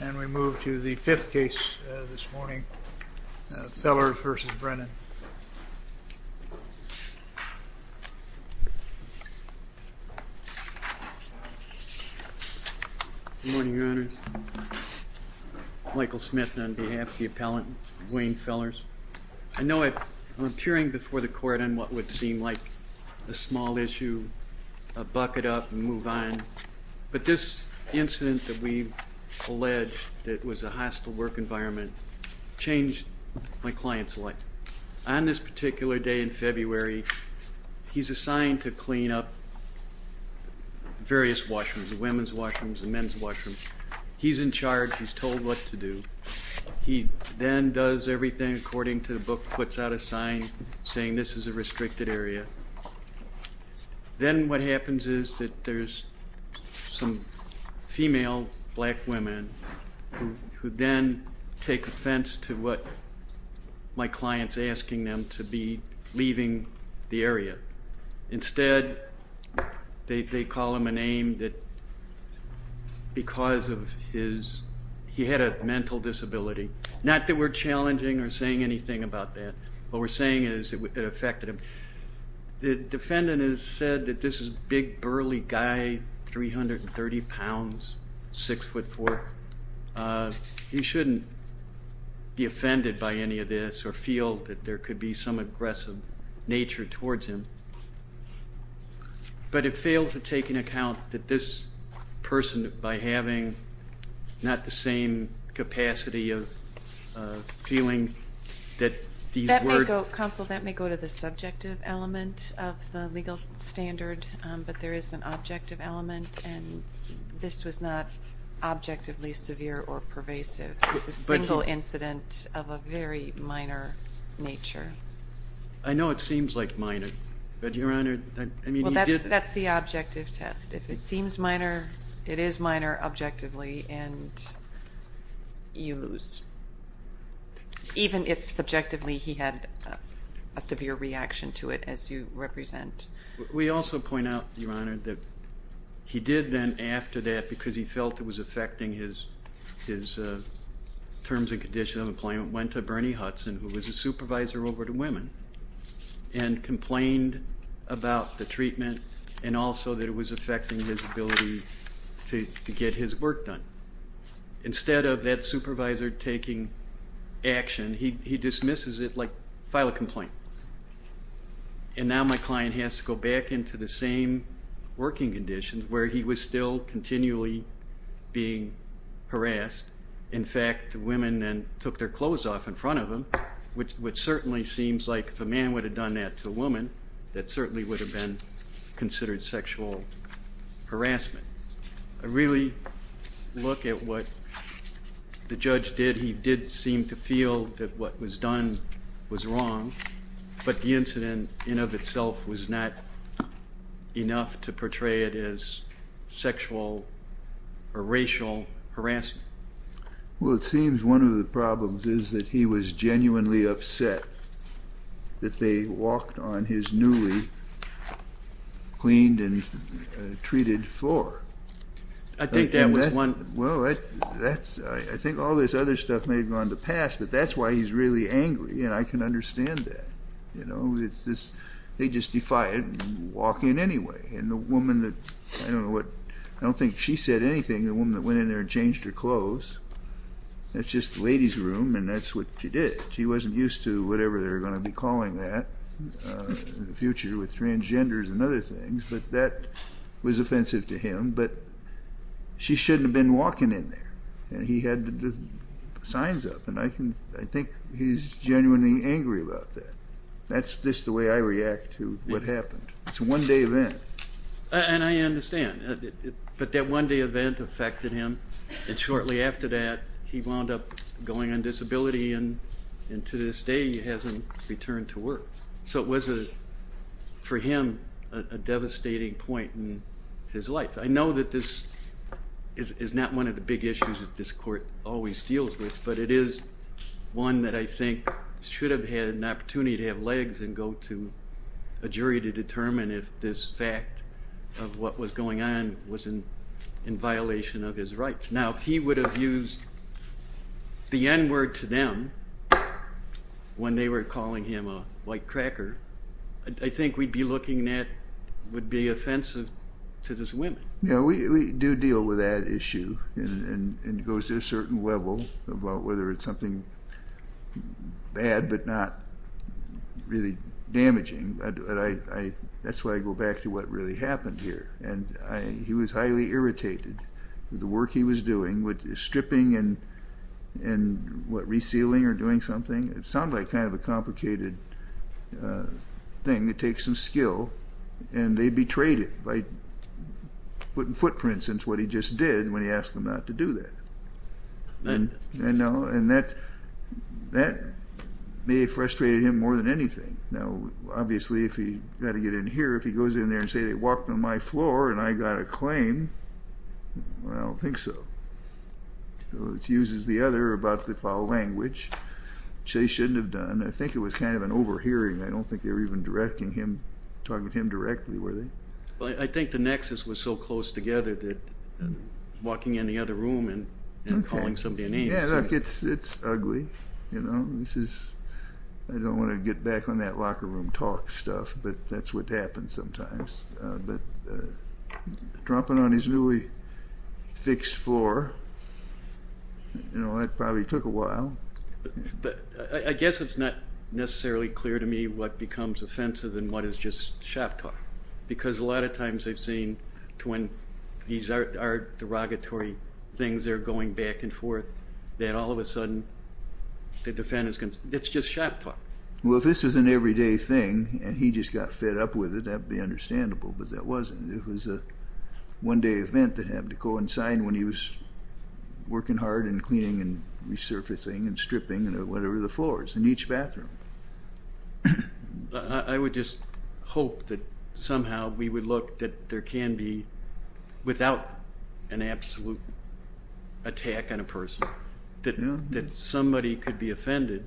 And we move to the fifth case this morning, Fellers v. Brennan. Good morning, Your Honors. Michael Smith on behalf of the appellant, Wayne Fellers. I know I'm appearing before the court on what would seem like a small issue, a bucket up and move on, but this incident that we've alleged that was a hostile work environment changed my client's life. On this particular day in February, he's assigned to clean up various washrooms, the women's washrooms and men's washrooms. He's in charge. He's told what to do. He then does everything according to the book, puts out a sign saying this is a restricted area. Then what happens is that there's some female black women who then take offense to what my client's asking them to be leaving the area. Instead, they call him a name that because of his, he had a mental disability. Not that we're challenging or saying anything about that. What we're saying is it affected him. The defendant has said that this is big, burly guy, 330 pounds, 6 foot 4. He shouldn't be offended by any of this or feel that there could be some aggressive nature towards him, but it failed to take into account that this person, by having not the same capacity of feeling that these were... Counsel, that may go to the subjective element of the field standard, but there is an objective element and this was not objectively severe or pervasive. It was a single incident of a very minor nature. I know it seems like minor, but Your Honor... That's the objective test. If it seems minor, it is minor objectively and you lose. Even if subjectively he had a reaction to it as you represent. We also point out, Your Honor, that he did then after that, because he felt it was affecting his terms and condition of employment, went to Bernie Hudson, who was a supervisor over to women, and complained about the treatment and also that it was affecting his ability to get his work done. Instead of that supervisor taking action, he dismisses it like, file a complaint. And now my client has to go back into the same working conditions where he was still continually being harassed. In fact, women then took their clothes off in front of him, which certainly seems like if a man would have done that to a woman, that certainly would have been considered sexual harassment. I really look at what the judge did. He did seem to feel that what was done was wrong, but the incident in of itself was not enough to portray it as sexual or racial harassment. Well, it seems one of the problems is that he was genuinely upset that they walked on his newly cleaned and treated floor. I think that was one... Well, I think all this other stuff may have gone to pass, but that's why he's really angry, and I can understand that. You know, it's this... They just defy it and walk in anyway, and the woman that... I don't know what... I don't think she said anything, the woman that went in there and changed her clothes. That's just the ladies room, and that's what she did. She wasn't used to whatever they're going to be calling that in the future with transgenders and other things, but that was offensive to him. But she shouldn't have been walking in there, and he had the signs up, and I can... I think he's genuinely angry about that. That's just the way I react to what happened. It's a one-day event. And I understand, but that one-day event affected him, and shortly after that he wound up going on disability, and to this day he hasn't returned to work. So it was, for him, a devastating point in his life. I know that this is not one of the big issues that this court always deals with, but it is one that I think should have had an opportunity to have legs and go to a jury to determine if this fact of what was going on was in violation of his rights. Now, if he would have used the N-word to them when they were calling him a white cracker, I think we'd be looking at... would be offensive to those women. Yeah, we do deal with that issue and it goes to a certain level about whether it's something bad but not really damaging. That's why I go back to what really happened here. And he was highly irritated with the work he was doing, with stripping and, what, resealing or doing something. It sounded like kind of a complicated thing. It takes some skill, and they betrayed it by putting footprints into what he just did when he asked them not to do that. And that may have frustrated him more than anything. Now, obviously, if he got to get in here, if he goes in there and say they walked on my floor and I got a claim, I don't think so. It uses the other about the foul language, which they shouldn't have done. I think it was kind of an overhearing. I don't think they were even directing him, talking to him and walking in the other room and calling somebody names. Yeah, look, it's ugly, you know. This is... I don't want to get back on that locker room talk stuff, but that's what happens sometimes. But dropping on his newly fixed floor, you know, that probably took a while. I guess it's not necessarily clear to me what becomes offensive and what is just these are derogatory things, they're going back and forth, that all of a sudden the defendants... it's just shop talk. Well, if this is an everyday thing, and he just got fed up with it, that would be understandable, but that wasn't. It was a one-day event that happened to coincide when he was working hard and cleaning and resurfacing and stripping, you know, whatever the floors in each bathroom. I would just hope that somehow we would look that there can be, without an absolute attack on a person, that somebody could be offended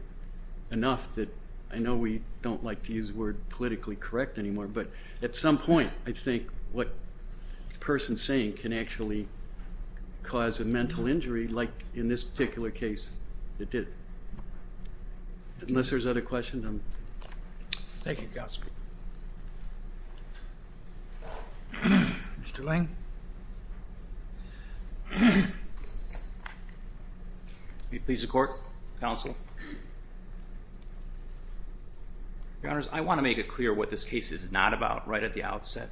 enough that, I know we don't like to use the word politically correct anymore, but at some point I think what this person's saying can actually cause a mental injury like in this particular case it did. Unless there's other questions, I'm... Thank you, counsel. Mr. Lange? Please support, counsel. Your Honors, I want to make it clear what this case is not about right at the outset.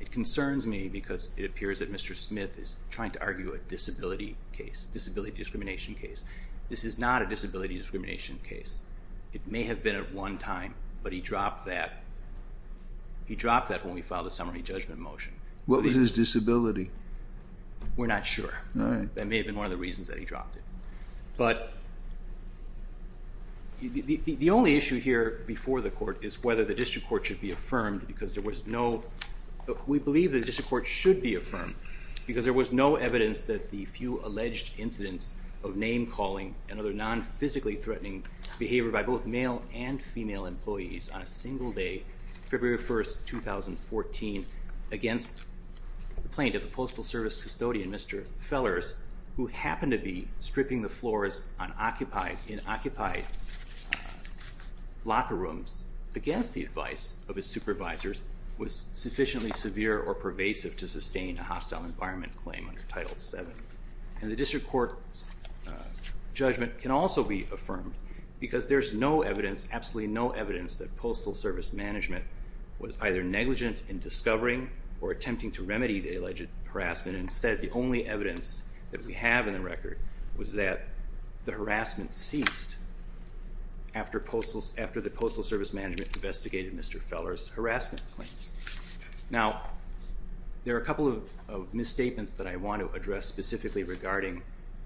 It concerns me because it appears that Mr. Smith is trying to argue a disability case, disability discrimination case. This is not a disability discrimination case. It may have been at one time, but he dropped that. He dropped that when we filed a summary judgment motion. What was his disability? We're not sure. That may have been one of the reasons that he dropped it, but the only issue here before the court is whether the district court should be affirmed because there was no... we believe that the district court should be affirmed because there was no evidence that the few alleged incidents of name-calling and other non-physically threatening behavior by both male and female employees on a single day, February 1st, 2014, against complaint of the Postal Service custodian, Mr. Fellers, who happened to be stripping the floors on occupied, in occupied locker rooms against the advice of his supervisors, was sufficiently severe or pervasive to sustain a hostile environment claim under Title VII. And the district court's judgment can also be affirmed because there's no evidence, absolutely no evidence, that Postal Service management was either negligent in discovering or attempting to remedy the alleged harassment. Instead, the only evidence that we have in the record was that the harassment ceased after the Postal Service management investigated Mr. Fellers' harassment claims. Now, there are a couple of misstatements that I want to address specifically regarding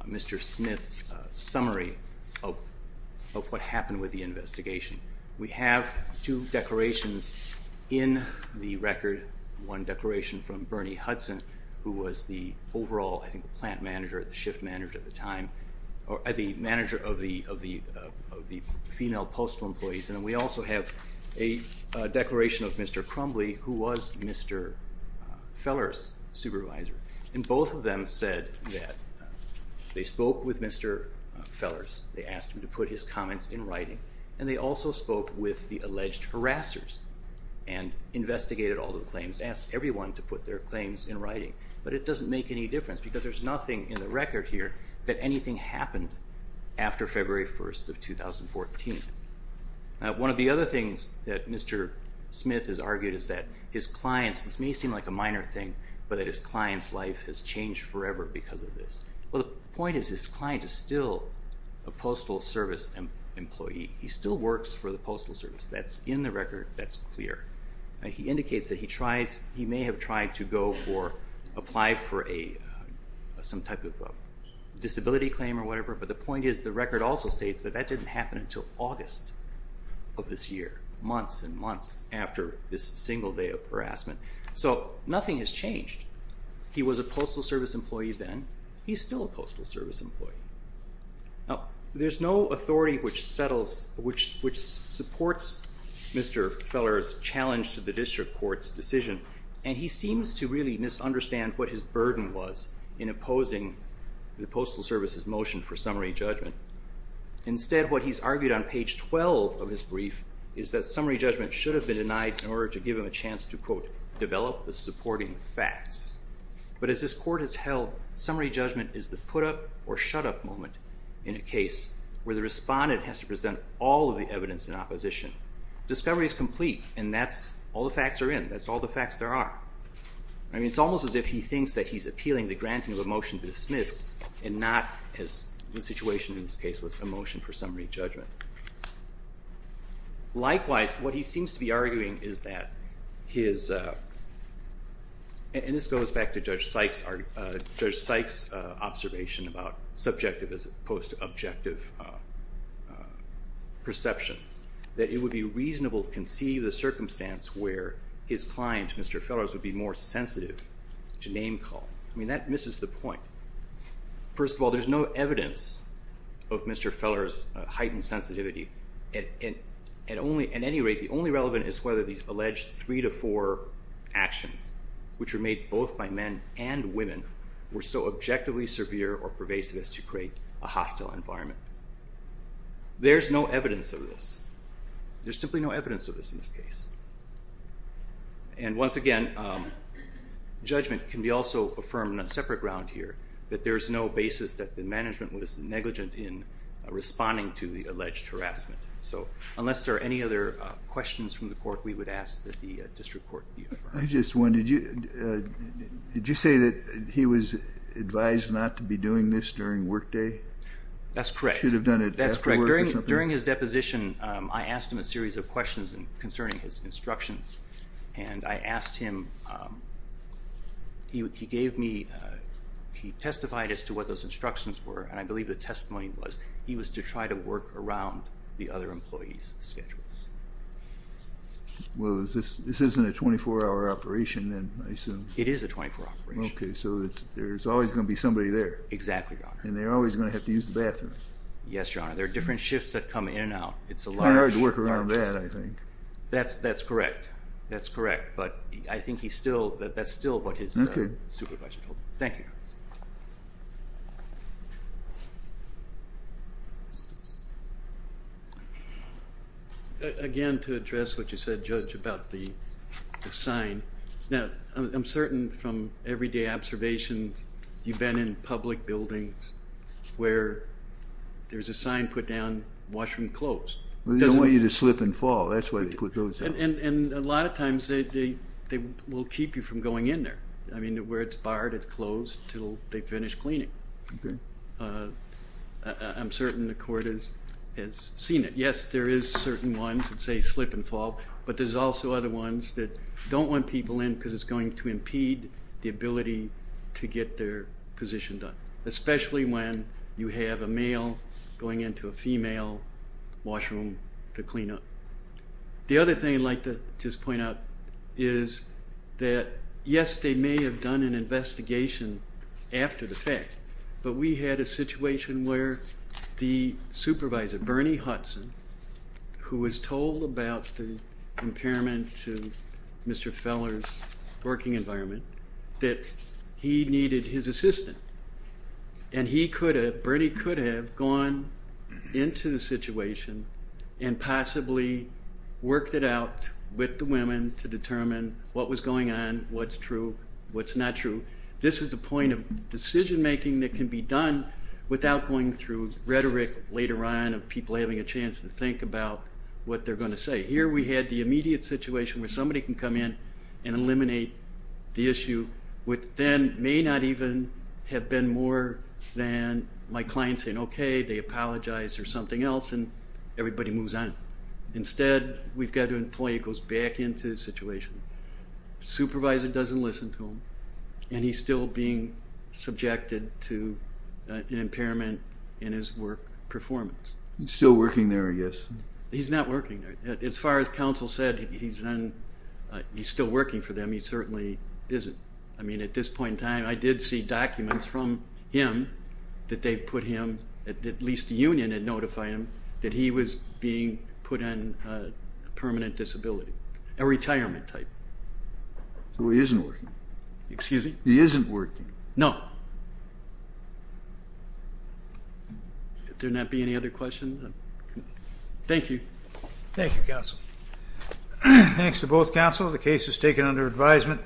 Mr. Smith's summary of what happened with the investigation. We have two declarations in the record, one declaration from Bernie Hudson, who was the overall, I think, the plant manager, the shift manager at the time, or the manager of the female postal employees. And we also have a declaration of Mr. Crumbly, who was Mr. Fellers' supervisor. And both of them said that they spoke with Mr. Fellers, they asked him to put his comments in writing, and they also spoke with the alleged harassers and investigated all the claims, asked everyone to put their claims in writing. But it doesn't make any difference because there's nothing in the record here that anything happened after February 1st of 2014. One of the other things that Mr. Smith has argued is that his clients, this may seem like a minor thing, but that his client's life has changed forever because of this. Well, the point is his client is still a Postal Service employee. He still works for the Postal Service. That's in the record, that's clear. He indicates that he may have tried to go for, apply for some type of disability claim or whatever, but the point is the record also states that that didn't happen until August of this year, months and months after this single day of harassment. So nothing has changed. He was a Postal Service employee then, he's still a Postal Service employee. Now there's no authority which settles, which supports Mr. Fellers' challenge to the district court's decision, and he seems to really misunderstand what his burden was in opposing the Postal Service's motion for discovery. Instead, what he's argued on page 12 of his brief is that summary judgment should have been denied in order to give him a chance to, quote, develop the supporting facts. But as this court has held, summary judgment is the put-up or shut-up moment in a case where the respondent has to present all of the evidence in opposition. Discovery is complete and that's all the facts are in, that's all the facts there are. I mean, it's almost as if he thinks that he's appealing the granting of a motion to dismiss and not, as the situation in this case was, a motion for summary judgment. Likewise, what he seems to be arguing is that his, and this goes back to Judge Sykes' observation about subjective as opposed to objective perceptions, that it would be reasonable to conceive the circumstance where his client, Mr. Fellers, would be more sensitive to name-calling. I mean, that misses the point. First of all, there's no evidence of Mr. Fellers' heightened sensitivity. At any rate, the only relevant is whether these alleged three to four actions, which were made both by men and women, were so objectively severe or pervasive as to create a hostile environment. There's no evidence of this. There's simply no evidence of this in this case. And once again, judgment can be also affirmed on a separate ground here, that there's no basis that the management was negligent in responding to the alleged harassment. So unless there are any other questions from the court, we would ask that the district court be affirmed. I just wondered, did you say that he was advised not to be doing this during workday? That's correct. Should have done it after work or something? That's correct. During his deposition, I asked him a series of questions concerning his instructions, and I asked him, he gave me, he testified as to what those instructions were, and I believe the testimony was he was to try to work around the other employees' schedules. Well, this isn't a 24-hour operation then, I assume? It is a 24-hour operation. Okay, so there's always going to be somebody there. Exactly, Your Honor. And they're always going to have to use the bathroom. Yes, Your Honor. There are different shifts that come in and out. It's a large... Charge worker on that, I think. That's correct, that's correct, but I think he still, that's still what his supervisor told him. Thank you. Again, to address what you said, Judge, about the sign. Now, I'm certain from everyday observations, you've been in public buildings where there's a sign put down, washroom closed. They don't want you to slip and fall, that's why they put those up. And a lot of times they will keep you from going in there. I mean, where it's barred, it's closed till they finish cleaning. I'm certain the court has seen it. Yes, there is certain ones that say slip and fall, but there's also other ones that don't want people in because it's going to impede the ability to get their position done, especially when you have a male going into a female washroom to clean up. The other thing I'd like to just point out is that, yes, they may have done an investigation after the fact, but we had a situation where the supervisor, Bernie Hudson, who was told about the impairment to Mr. Feller's working environment, that he needed his assistant. And he could have, Bernie could have, gone into the situation and possibly worked it out with the women to determine what was going on, what's true, what's not true. This is the point of decision-making that can be done without going through rhetoric later on of people having a chance to think about what they're going to say. Here we had the immediate situation where somebody can come in and eliminate the issue which then may not even have been more than my client saying, okay, they apologized or something else and everybody moves on. Instead, we've got an employee who goes back into the situation. Supervisor doesn't listen to him and he's still being subjected to an impairment in his work performance. He's still said he's still working for them. He certainly isn't. I mean, at this point in time, I did see documents from him that they put him, at least the union had notified him, that he was being put on permanent disability, a retirement type. So he isn't working? Excuse me? He isn't working? No. There not be any other questions? Thank you. Thank you, counsel. Thanks to both counsel. The case is taken under advisement.